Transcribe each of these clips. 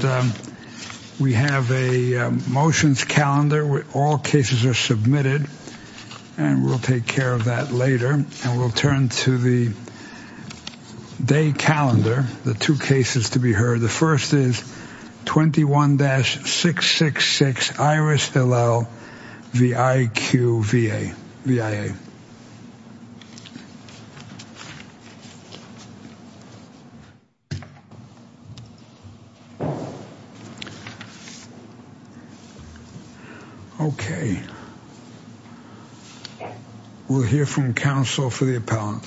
And we have a motions calendar where all cases are submitted and we'll take care of that later. And we'll turn to the day calendar, the two cases to be heard. And the first is 21-666-IRISH-LL-VIQ-VA, V-I-A. Okay. We'll hear from counsel for the appellant.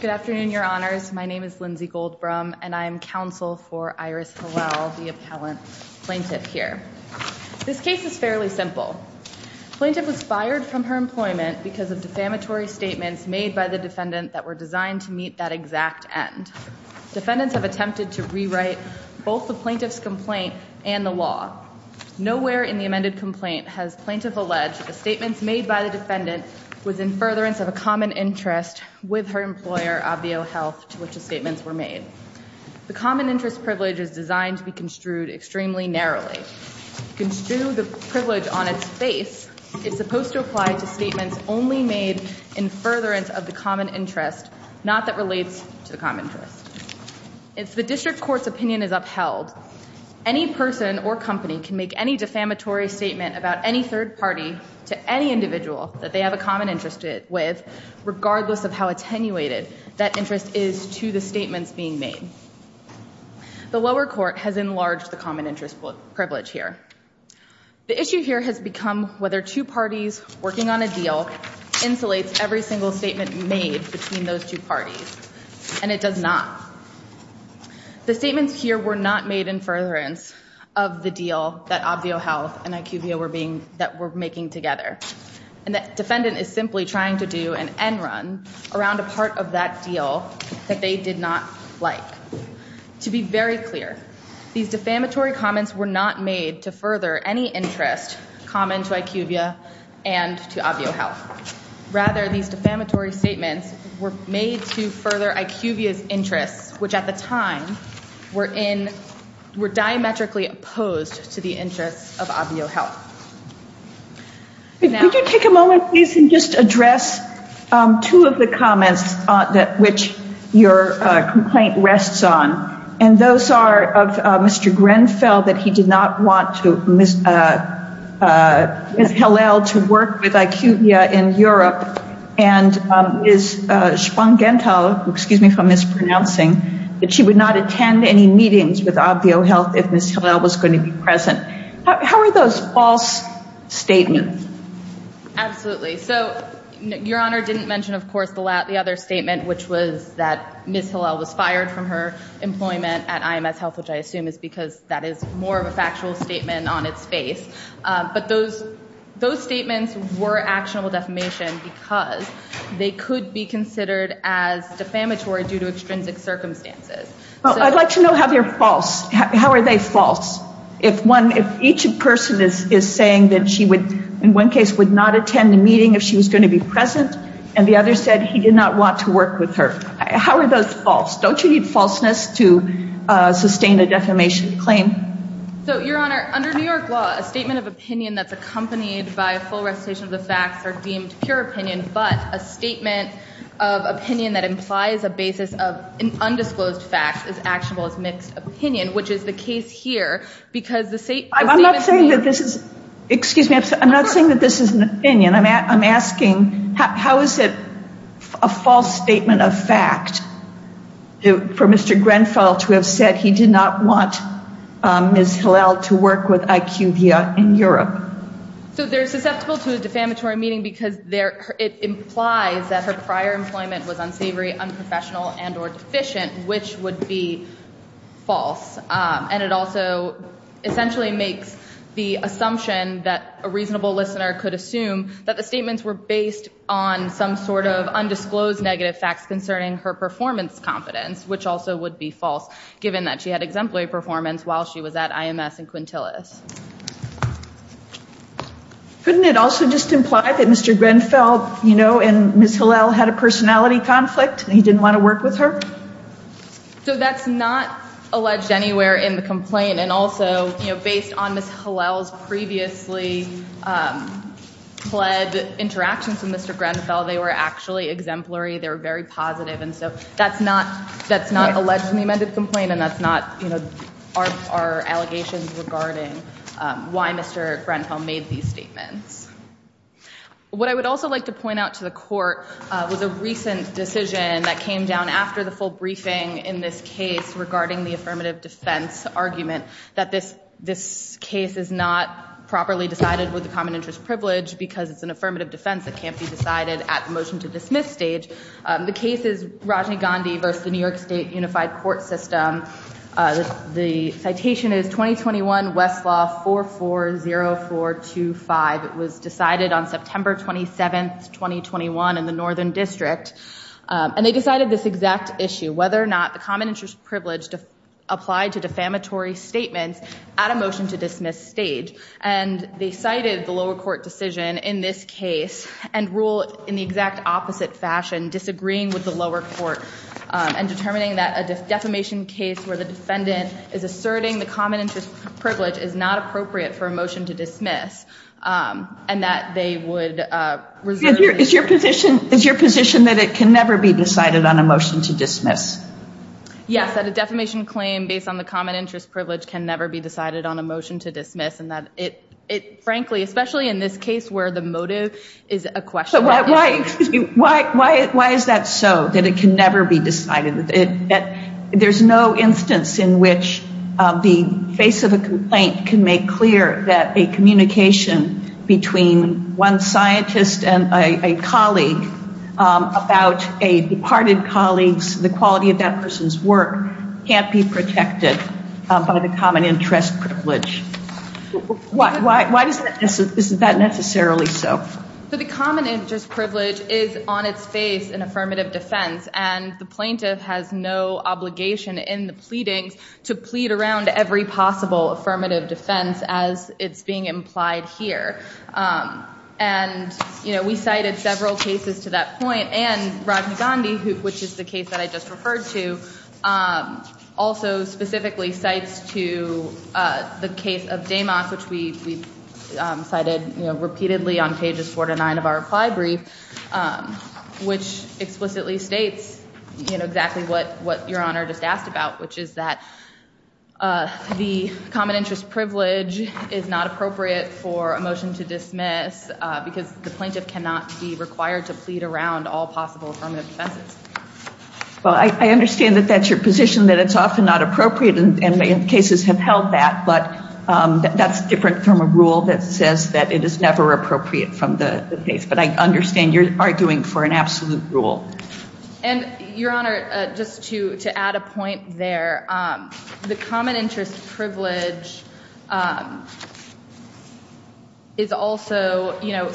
Good afternoon, your honors. My name is Lindsay Goldbrum and I am counsel for Iris Hillel, the appellant plaintiff here. This case is fairly simple. Plaintiff was fired from her employment because of defamatory statements made by the defendant that were designed to meet that exact end. Defendants have attempted to rewrite both the plaintiff's complaint and the law. Nowhere in the amended complaint has plaintiff alleged the statements made by the defendant was in furtherance of a common interest with her employer, Obvio Health, to which the statements were made. The common interest privilege is designed to be construed extremely narrowly. To construe the privilege on its face, it's supposed to apply to statements only made in furtherance of the common interest, not that relates to the common interest. If the district court's opinion is upheld, any person or company can make any defamatory statement about any third party to any individual that they have a common interest with, regardless of how attenuated that interest is to the statements being made. The lower court has enlarged the common interest privilege here. The issue here has become whether two parties working on a deal insulates every single statement made between those two parties, and it does not. The statements here were not made in furtherance of the deal that Obvio Health and IQVIA were being, that were making together. And the defendant is simply trying to do an end run around a part of that deal that they did not like. To be very clear, these defamatory comments were not made to further any interest common to IQVIA and to Obvio Health. Rather, these defamatory statements were made to further IQVIA's interests, which at the time were in, were diametrically opposed to the interests of Obvio Health. Could you take a moment please and just address two of the comments that, which your complaint rests on, and those are of Mr. Grenfell, that he did not want to, Ms. Hillel, to work with Obvio Health in Europe, and Ms. Spongenthal, excuse me for mispronouncing, that she would not attend any meetings with Obvio Health if Ms. Hillel was going to be present. How are those false statements? Absolutely. So, your Honor didn't mention, of course, the other statement, which was that Ms. Hillel was fired from her employment at IMS Health, which I assume is because that is more of a factual statement on its face. But those statements were actionable defamation because they could be considered as defamatory due to extrinsic circumstances. Well, I'd like to know how they're false. How are they false? If one, if each person is saying that she would, in one case, would not attend the meeting if she was going to be present, and the other said he did not want to work with her. How are those false? Don't you need falseness to sustain a defamation claim? So, your Honor, under New York law, a statement of opinion that's accompanied by a full recitation of the facts are deemed pure opinion, but a statement of opinion that implies a basis of an undisclosed fact is actionable as mixed opinion, which is the case here because the statement here- I'm not saying that this is, excuse me, I'm not saying that this is an opinion. I'm asking how is it a false statement of fact for Mr. Grenfell to have said he did not want Ms. Hillel to work with IQVIA in Europe? So, they're susceptible to a defamatory meeting because it implies that her prior employment was unsavory, unprofessional, and or deficient, which would be false. And it also essentially makes the assumption that a reasonable listener could assume that the statements were based on some sort of undisclosed negative facts concerning her exemplary performance while she was at IMS in Quintillis. Couldn't it also just imply that Mr. Grenfell, you know, and Ms. Hillel had a personality conflict and he didn't want to work with her? So, that's not alleged anywhere in the complaint. And also, you know, based on Ms. Hillel's previously fled interactions with Mr. Grenfell, they were actually exemplary. They were very positive. And so, that's not alleged in the amended complaint and that's not, you know, our allegations regarding why Mr. Grenfell made these statements. What I would also like to point out to the court was a recent decision that came down after the full briefing in this case regarding the affirmative defense argument that this case is not properly decided with the common interest privilege because it's an affirmative defense that can't be decided at the motion to dismiss stage. The case is Rajiv Gandhi versus the New York State Unified Court System. The citation is 2021 Westlaw 440425. It was decided on September 27th, 2021 in the Northern District. And they decided this exact issue, whether or not the common interest privilege applied to defamatory statements at a motion to dismiss stage. And they cited the lower court decision in this case and rule in the exact opposite fashion, disagreeing with the lower court and determining that a defamation case where the defendant is asserting the common interest privilege is not appropriate for a motion to dismiss and that they would reserve. Is your position that it can never be decided on a motion to dismiss? Yes, that a defamation claim based on the common interest privilege can never be decided on a motion to dismiss and that it, frankly, especially in this case where the motive is a question. Why is that so, that it can never be decided? There's no instance in which the face of a complaint can make clear that a communication between one scientist and a colleague about a departed colleague's, the quality of that person's work can't be protected by the common interest privilege. Why is that necessarily so? The common interest privilege is on its face in affirmative defense and the plaintiff has no obligation in the pleadings to plead around every possible affirmative defense as it's being implied here. And we cited several cases to that point and Rajna Gandhi, which is the case that I just referred to, also specifically cites to the case of Damock, which we cited repeatedly on pages four to nine of our reply brief, which explicitly states exactly what Your Honor just asked about, which is that the common interest privilege is not appropriate for a motion to dismiss because the plaintiff cannot be required to plead around all possible affirmative defenses. Well, I understand that that's your position, that it's often not appropriate and cases have held that, but that's different from a rule that says that it is never appropriate from the case. But I understand you're arguing for an absolute rule. And Your Honor, just to add a point there, the common interest privilege is also, you know,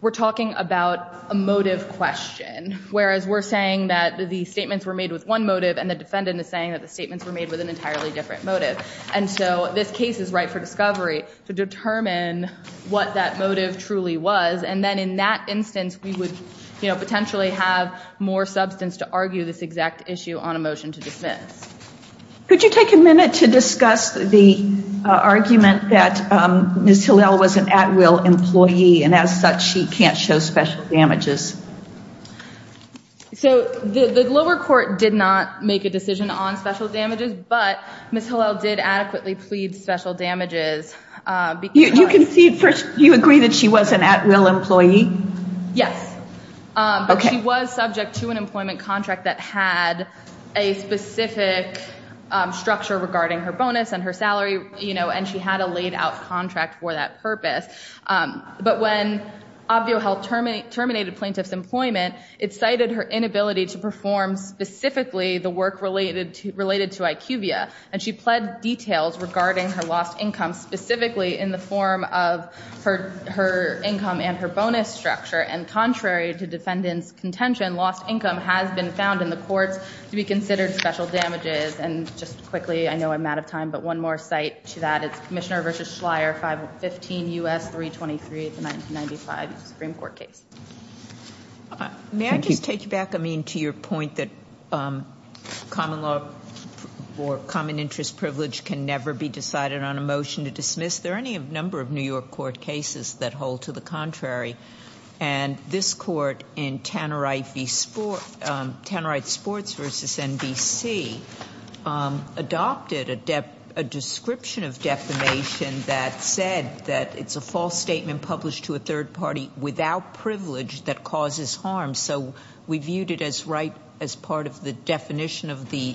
we're talking about a motive question, whereas we're saying that the statements were made with one motive and the defendant is saying that the statements were made with an entirely different motive. And so this case is right for discovery to determine what that motive truly was. And then in that instance, we would, you know, potentially have more substance to argue this exact issue on a motion to dismiss. Could you take a minute to discuss the argument that Ms. Hillel was an at-will employee and as such she can't show special damages? So the lower court did not make a decision on special damages, but Ms. Hillel did adequately plead special damages. You agree that she was an at-will employee? Yes. But she was subject to an employment contract that had a specific structure regarding her bonus and her salary, you know, and she had a laid out contract for that purpose. But when ObvioHealth terminated plaintiff's employment, it cited her inability to perform specifically the work related to IQVIA, and she pled details regarding her lost income specifically in the form of her income and her bonus structure. And contrary to defendant's contention, lost income has been found in the courts to be considered special damages. And just quickly, I know I'm out of time, but one more cite to that is Commissioner versus Schleyer, 515 U.S. 323 of the 1995 Supreme Court case. May I just take you back, I mean, to your point that common law or common interest privilege can never be decided on a motion to dismiss? There are any number of New York court cases that hold to the contrary, and this court in Tannerife Sports versus NBC adopted a description of defamation that said that it's a false statement published to a third party without privilege that causes harm. So we viewed it as right as part of the definition of the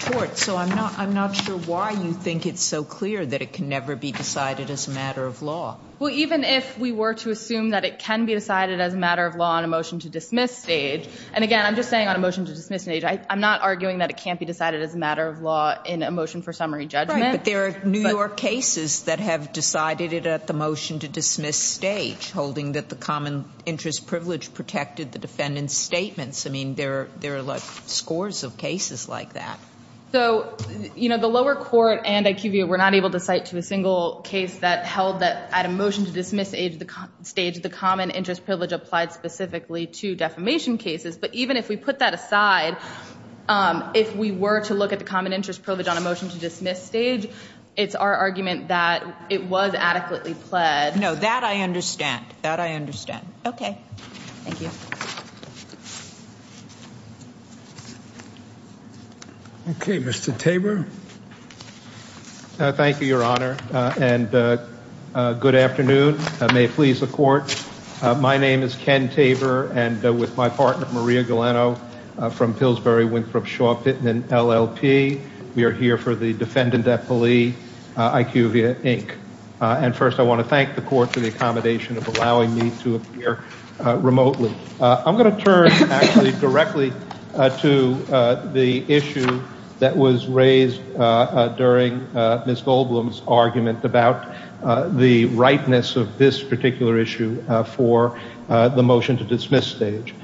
court. So I'm not sure why you think it's so clear that it can never be decided as a matter of law. Well, even if we were to assume that it can be decided as a matter of law on a motion to dismiss stage, and again, I'm just saying on a motion to dismiss stage, I'm not arguing that it can't be decided as a matter of law in a motion for summary judgment. Right, but there are New York cases that have decided it at the motion to dismiss stage, holding that the common interest privilege protected the defendant's statements. I mean, there are scores of cases like that. So the lower court and IQVIA were not able to cite to a single case that held that at a motion to dismiss stage, the common interest privilege applied specifically to defamation cases. But even if we put that aside, if we were to look at the common interest privilege on a motion to dismiss stage, it's our argument that it was adequately pled. No, that I understand. That I understand. Okay. Thank you. Okay. Mr. Tabor. Thank you, Your Honor, and good afternoon, and may it please the court. My name is Ken Tabor, and with my partner, Maria Galeno, from Pillsbury Winthrop Shaw Pittman LLP, we are here for the Defendant Epilee IQVIA, Inc. And first, I want to thank the court for the accommodation of allowing me to appear remotely. Thank you. I'm going to turn, actually, directly to the issue that was raised during Ms. Goldblum's argument about the rightness of this particular issue for the motion to dismiss stage.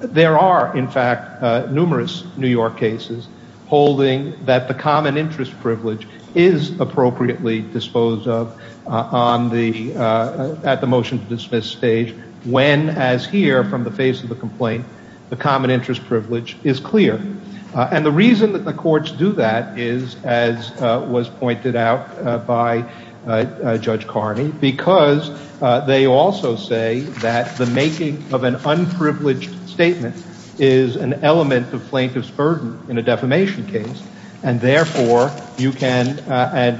There are, in fact, numerous New York cases holding that the common interest privilege is appropriately disposed of at the motion to dismiss stage when, as here, from the face of the complaint, the common interest privilege is clear. And the reason that the courts do that is, as was pointed out by Judge Carney, because they also say that the making of an unprivileged statement is an element of plaintiff's burden in a defamation case, and therefore, you can, and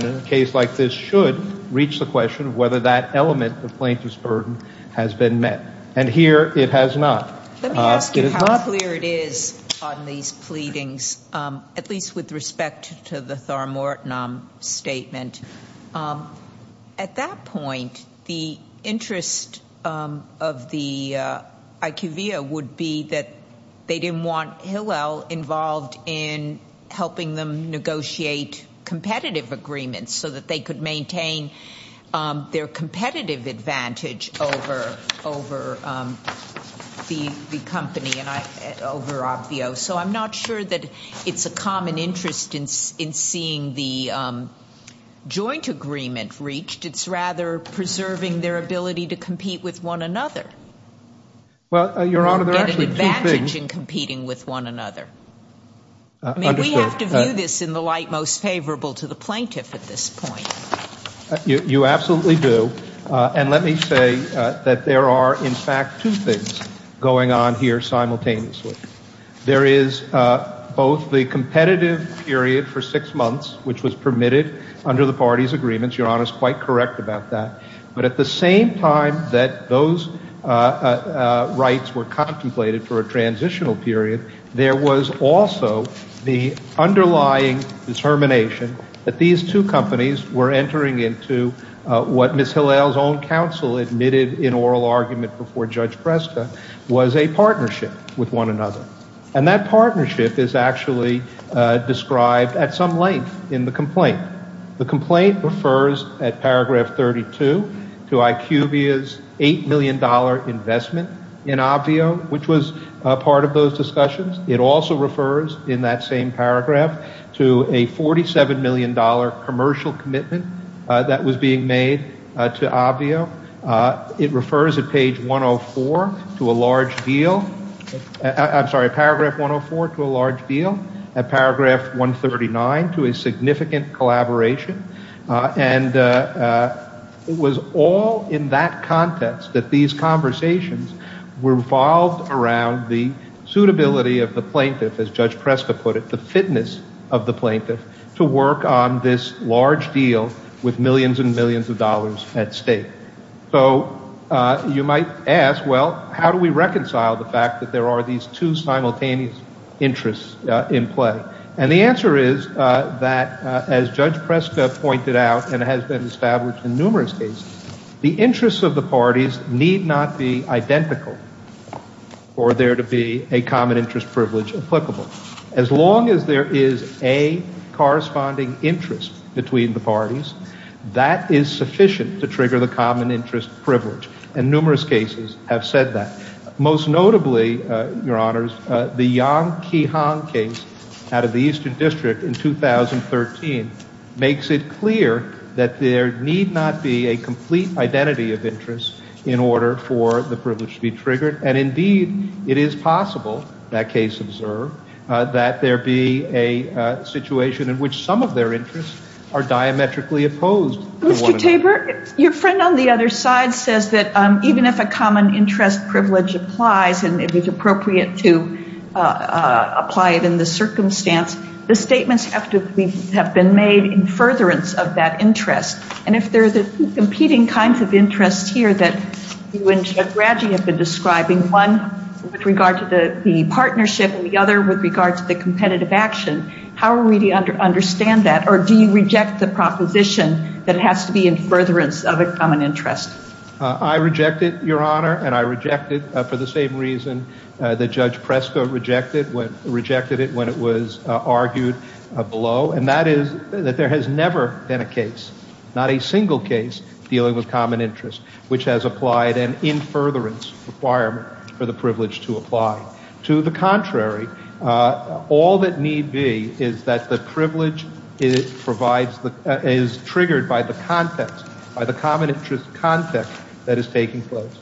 in a case like this should, reach the question of whether that element of plaintiff's burden has been met. And here, it has not. It has not. Let me ask you how clear it is on these pleadings, at least with respect to the Thar Mortonam statement. At that point, the interest of the IQVIA would be that they didn't want Hillel involved in helping them negotiate competitive agreements so that they could maintain their competitive advantage over the company and over Obvio. So I'm not sure that it's a common interest in seeing the joint agreement reached. It's rather preserving their ability to compete with one another. Well, Your Honor, there are actually two things. Or get an advantage in competing with one another. Understood. I mean, we have to view this in the light most favorable to the plaintiff at this point. You absolutely do. And let me say that there are, in fact, two things going on here simultaneously. There is both the competitive period for six months, which was permitted under the party's agreements. Your Honor is quite correct about that. But at the same time that those rights were contemplated for a transitional period, there was also the underlying determination that these two companies were entering into what Ms. Hillel's own counsel admitted in oral argument before Judge Presta was a partnership with one another. And that partnership is actually described at some length in the complaint. The complaint refers at paragraph 32 to IQVIA's $8 million investment in Obvio, which was part of those discussions. It also refers in that same paragraph to a $47 million commercial commitment that was being made to Obvio. It refers at page 104 to a large deal, I'm sorry, paragraph 104 to a large deal, at paragraph 139 to a significant collaboration. And it was all in that context that these conversations revolved around the suitability of the plaintiff, as Judge Presta put it, the fitness of the plaintiff to work on this at stake. So you might ask, well, how do we reconcile the fact that there are these two simultaneous interests in play? And the answer is that as Judge Presta pointed out and has been established in numerous cases, the interests of the parties need not be identical for there to be a common interest privilege applicable. As long as there is a corresponding interest between the parties, that is sufficient to trigger the common interest privilege. And numerous cases have said that. Most notably, Your Honors, the Yang-Ki Han case out of the Eastern District in 2013 makes it clear that there need not be a complete identity of interest in order for the privilege to be triggered. And indeed, it is possible, that case observed, that there be a situation in which some of their interests are diametrically opposed to one another. Mr. Tabor, your friend on the other side says that even if a common interest privilege applies and it is appropriate to apply it in this circumstance, the statements have to have been made in furtherance of that interest. And if there are two competing kinds of interests here that you and Judge Radji have been describing, one with regard to the partnership and the other with regard to the competitive action, how will we understand that? Or do you reject the proposition that it has to be in furtherance of a common interest? I reject it, Your Honor, and I reject it for the same reason that Judge Presta rejected it when it was argued below. And that is that there has never been a case, not a single case, dealing with common interest which has applied an in furtherance requirement for the privilege to apply. To the contrary, all that need be is that the privilege is triggered by the context, by the common interest context that is taking place.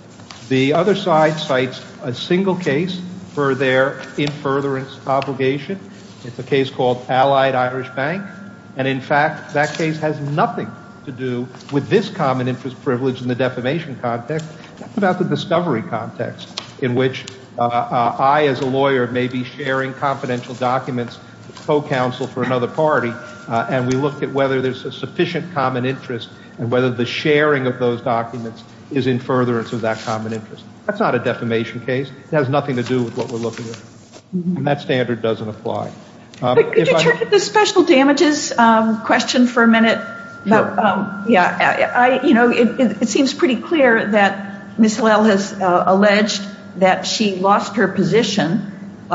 The other side cites a single case for their in furtherance obligation. It's a case called Allied Irish Bank, and in fact, that case has nothing to do with this common interest privilege in the defamation context. It's about the discovery context in which I as a lawyer may be sharing confidential documents, co-counsel for another party, and we look at whether there's a sufficient common interest and whether the sharing of those documents is in furtherance of that common interest. That's not a defamation case. It has nothing to do with what we're looking at. And that standard doesn't apply. Could you turn to the special damages question for a minute? It seems pretty clear that Ms. Lell has alleged that she lost her position,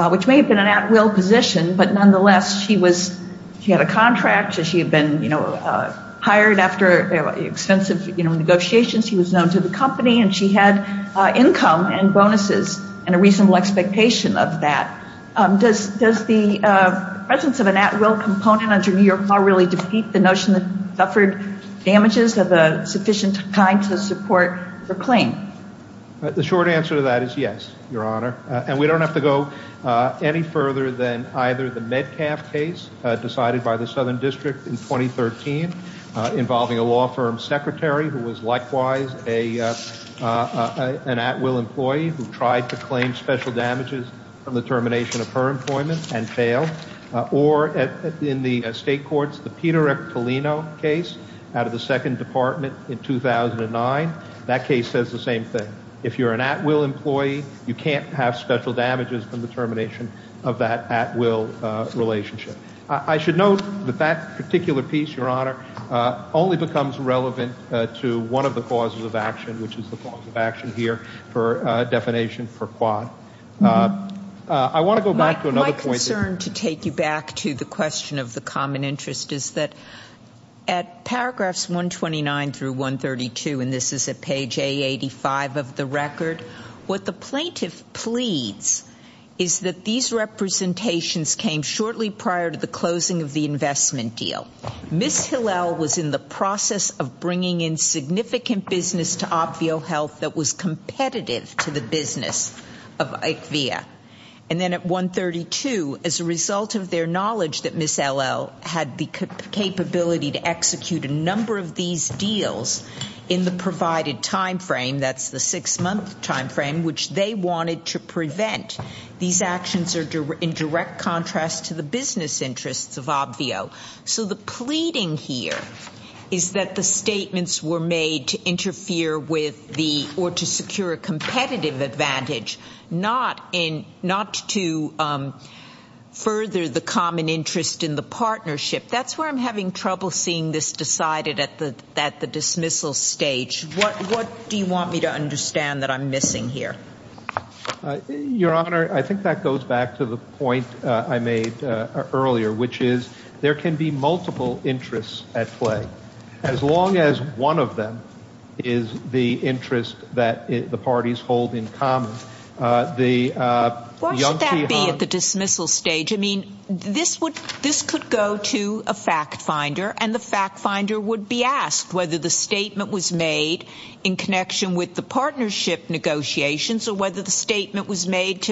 which may have been an at-will position, but nonetheless, she had a contract, she had been hired after expensive negotiations, she was known to the company, and she had income and bonuses and a reasonable expectation of that. Does the presence of an at-will component under New York law really defeat the notion that she suffered damages of a sufficient kind to support her claim? The short answer to that is yes, Your Honor. And we don't have to go any further than either the Metcalf case decided by the Southern District in 2013 involving a law firm secretary who was likewise an at-will employee who tried to claim special damages from the termination of her employment and failed. Or in the state courts, the Peter Eppolino case out of the Second Department in 2009. That case says the same thing. If you're an at-will employee, you can't have special damages from the termination of that at-will relationship. I should note that that particular piece, Your Honor, only becomes relevant to one of the causes of action, which is the cause of action here for definition for Quad. I want to go back to another point. My concern to take you back to the question of the common interest is that at paragraphs 129 through 132, and this is at page A85 of the record, what the plaintiff pleads is that these representations came shortly prior to the closing of the investment deal. Ms. Hillel was in the process of bringing in significant business to Obvio Health that was competitive to the business of ITVIA. And then at 132, as a result of their knowledge that Ms. Hillel had the capability to execute a number of these deals in the provided timeframe, that's the six-month timeframe, which they wanted to prevent, these actions are in direct contrast to the business interests of Obvio. So the pleading here is that the statements were made to interfere with the, or to secure a competitive advantage, not to further the common interest in the partnership. That's where I'm having trouble seeing this decided at the dismissal stage. What do you want me to understand that I'm missing here? Your Honor, I think that goes back to the point I made earlier, which is there can be multiple interests at play, as long as one of them is the interest that the parties hold in common. What should that be at the dismissal stage? I mean, this could go to a fact finder, and the fact finder would be asked whether the statement was made to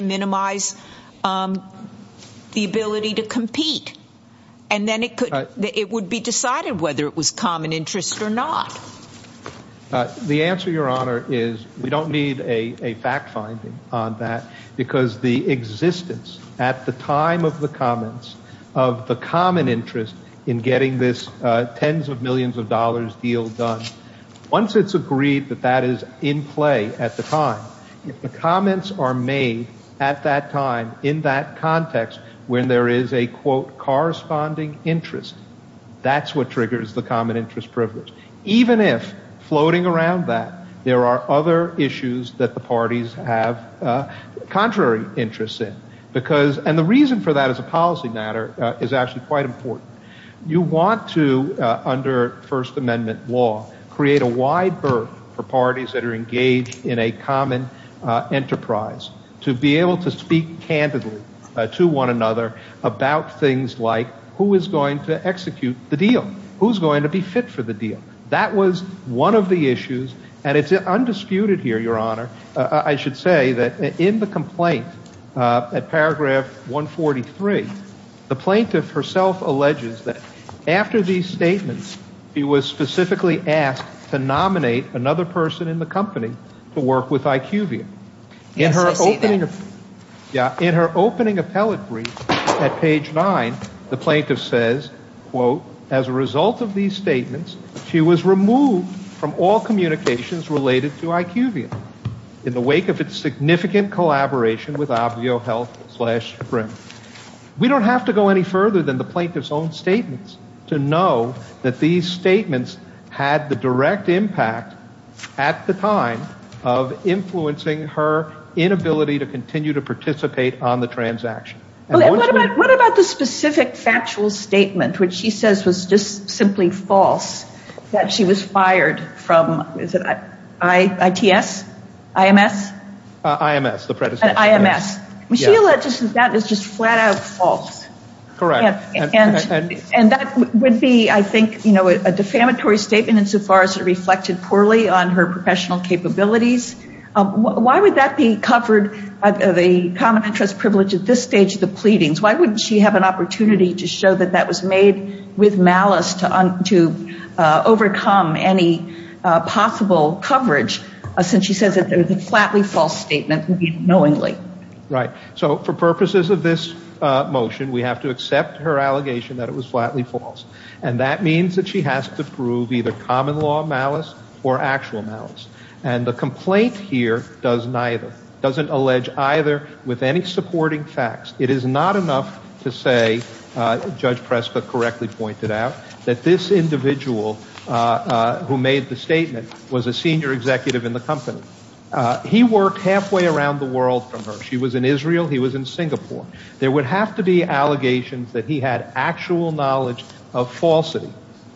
minimize the ability to compete. And then it would be decided whether it was common interest or not. The answer, Your Honor, is we don't need a fact finding on that, because the existence at the time of the comments of the common interest in getting this tens of millions of dollars deal done. Once it's agreed that that is in play at the time, if the comments are made at that time in that context when there is a, quote, corresponding interest, that's what triggers the common interest privilege. Even if, floating around that, there are other issues that the parties have contrary interests in. And the reason for that as a policy matter is actually quite important. You want to, under First Amendment law, create a wide berth for parties that are engaged in a common enterprise to be able to speak candidly to one another about things like who is going to execute the deal? Who's going to be fit for the deal? That was one of the issues, and it's undisputed here, Your Honor, I should say that in the After these statements, he was specifically asked to nominate another person in the company to work with IQVIA. In her opening appellate brief at page nine, the plaintiff says, quote, as a result of these statements, she was removed from all communications related to IQVIA in the wake of its significant collaboration with Obvio Health slash Sprint. We don't have to go any further than the plaintiff's own statements to know that these statements had the direct impact at the time of influencing her inability to continue to participate on the transaction. What about the specific factual statement, which she says was just simply false, that she was fired from, is it ITS, IMS? IMS, the predecessor. She alleges that that is just flat out false. Correct. And that would be, I think, a defamatory statement insofar as it reflected poorly on her professional capabilities. Why would that be covered by the common interest privilege at this stage of the pleadings? Why wouldn't she have an opportunity to show that that was made with malice to overcome any possible coverage, since she says that there's a flatly false statement, knowingly. Right. So for purposes of this motion, we have to accept her allegation that it was flatly false. And that means that she has to prove either common law malice or actual malice. And the complaint here does neither, doesn't allege either with any supporting facts. It is not enough to say, Judge Preska correctly pointed out, that this individual who made the statement was a senior executive in the company. He worked halfway around the world from her. She was in Israel. He was in Singapore. There would have to be allegations that he had actual knowledge of falsity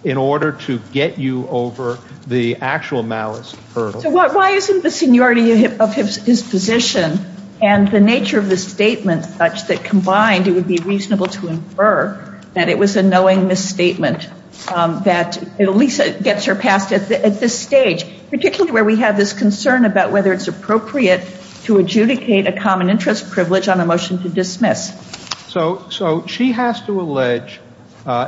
in order to get you over the actual malice hurdle. So why isn't the seniority of his position and the nature of the statement such that combined, it would be reasonable to infer that it was a knowing misstatement, that at least it gets her past at this stage, particularly where we have this concern about whether it's appropriate to adjudicate a common interest privilege on a motion to dismiss. So she has to allege,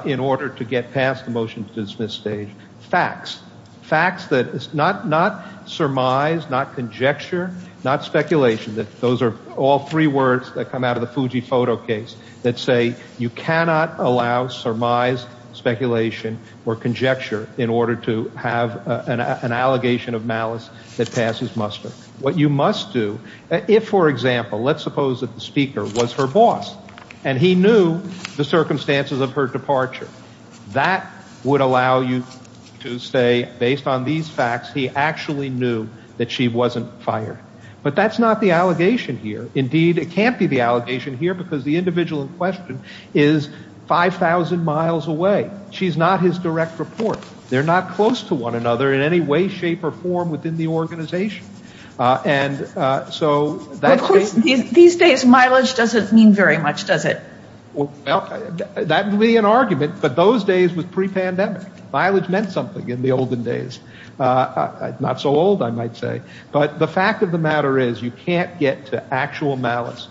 in order to get past the motion to dismiss stage, facts. Facts that, not surmise, not conjecture, not speculation. Those are all three words that come out of the Fuji photo case that say you cannot allow surmise, speculation, or conjecture in order to have an allegation of malice that passes muster. What you must do, if for example, let's suppose that the speaker was her boss and he knew the circumstances of her departure. That would allow you to say, based on these facts, he actually knew that she wasn't fired. But that's not the allegation here. Indeed, it can't be the allegation here because the individual in question is 5,000 miles away. She's not his direct report. They're not close to one another in any way, shape, or form within the organization. And so that's... These days, mileage doesn't mean very much, does it? Well, that would be an argument, but those days was pre-pandemic. Mileage meant something in the olden days. Not so old, I might say. But the fact of the matter is you can't get to actual malice,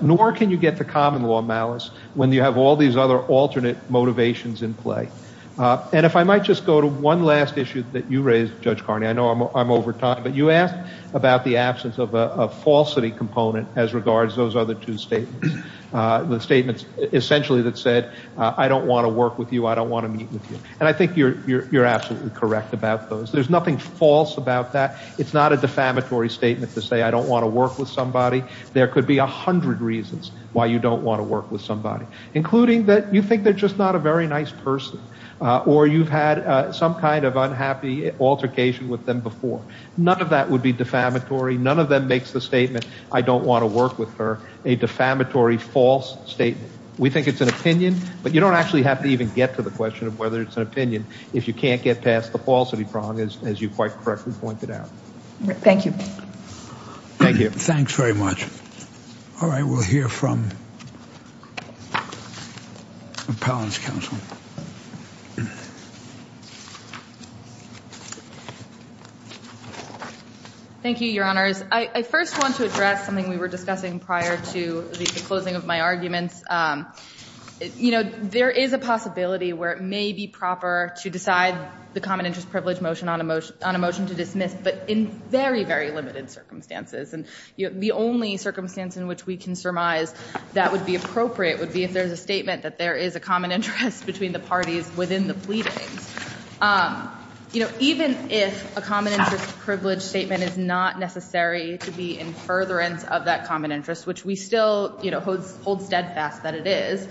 nor can you get to common law malice, when you have all these other alternate motivations in play. And if I might just go to one last issue that you raised, Judge Carney, I know I'm over time, but you asked about the absence of a falsity component as regards to those other two statements. The statements essentially that said, I don't want to work with you, I don't want to meet with you. And I think you're absolutely correct about those. There's nothing false about that. It's not a defamatory statement to say I don't want to work with somebody. There could be a hundred reasons why you don't want to work with somebody, including that you think they're just not a very nice person, or you've had some kind of unhappy altercation with them before. None of that would be defamatory. None of them makes the statement, I don't want to work with her, a defamatory false statement. We think it's an opinion, but you don't actually have to even get to the question of whether it's an opinion if you can't get past the falsity prong, as you quite correctly pointed out. Thank you. Thank you. Thanks very much. All right. We'll hear from Appellant's counsel. Thank you, Your Honors. I first want to address something we were discussing prior to the closing of my arguments. You know, there is a possibility where it may be proper to decide the common interest privilege motion on a motion to dismiss, but in very, very limited circumstances. And the only circumstance in which we can surmise that would be appropriate would be if there is a statement that there is a common interest between the parties within the pleadings. You know, even if a common interest privilege statement is not necessary to be in furtherance of that common interest, which we still, you know, hold steadfast that it is,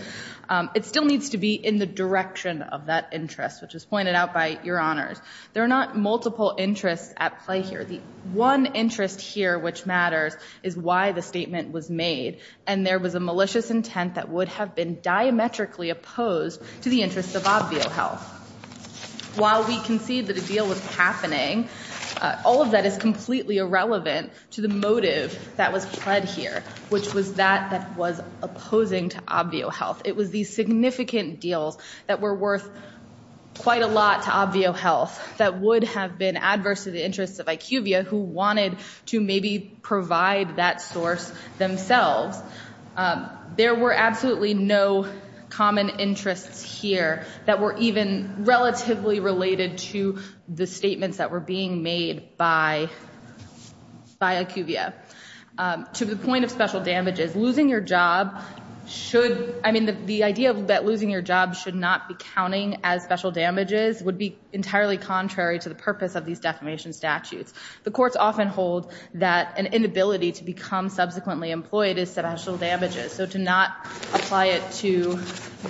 it still needs to be in the direction of that interest, which was pointed out by Your Honors. There are not multiple interests at play here. The one interest here which matters is why the statement was made, and there was a claim that it had been diametrically opposed to the interests of Obvio Health. While we concede that a deal was happening, all of that is completely irrelevant to the motive that was pled here, which was that that was opposing to Obvio Health. It was these significant deals that were worth quite a lot to Obvio Health that would have been adverse to the interests of IQVIA who wanted to maybe provide that source themselves. There were absolutely no common interests here that were even relatively related to the statements that were being made by IQVIA. To the point of special damages, losing your job should, I mean, the idea that losing your job should not be counting as special damages would be entirely contrary to the purpose of these defamation statutes. The courts often hold that an inability to become subsequently employed is special damages, so to not apply it to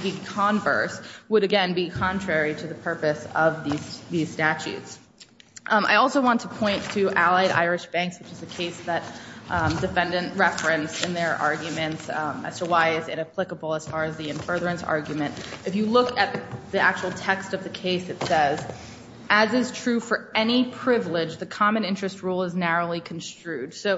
the converse would, again, be contrary to the purpose of these statutes. I also want to point to Allied Irish Banks, which is a case that defendants referenced in their arguments as to why is it applicable as far as the in furtherance argument. If you look at the actual text of the case, it says, as is true for any privilege, the common interest rule is narrowly construed. So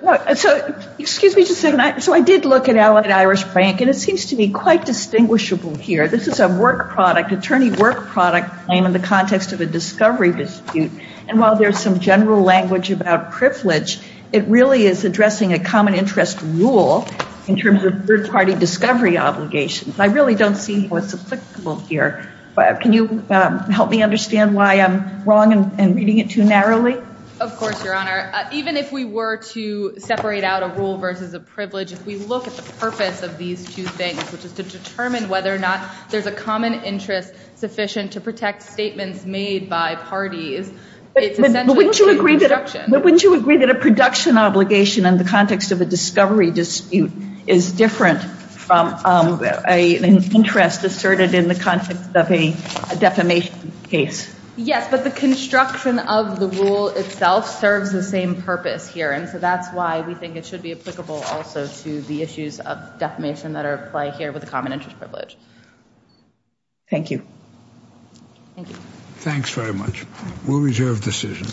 excuse me just a second. So I did look at Allied Irish Bank, and it seems to be quite distinguishable here. This is a work product, attorney work product claim in the context of a discovery dispute. And while there's some general language about privilege, it really is addressing a common interest rule in terms of third-party discovery obligations. I really don't see what's applicable here. Can you help me understand why I'm wrong in reading it too narrowly? Of course, Your Honor. Even if we were to separate out a rule versus a privilege, if we look at the purpose of these two things, which is to determine whether or not there's a common interest sufficient to protect statements made by parties, it's essentially a construction. But wouldn't you agree that a production obligation in the context of a discovery dispute is different from an interest asserted in the context of a defamation case? Yes, but the construction of the rule itself serves the same purpose here. And so that's why we think it should be applicable also to the issues of defamation that are at play here with the common interest privilege. Thank you. Thank you. Thanks very much. We'll reserve the decision.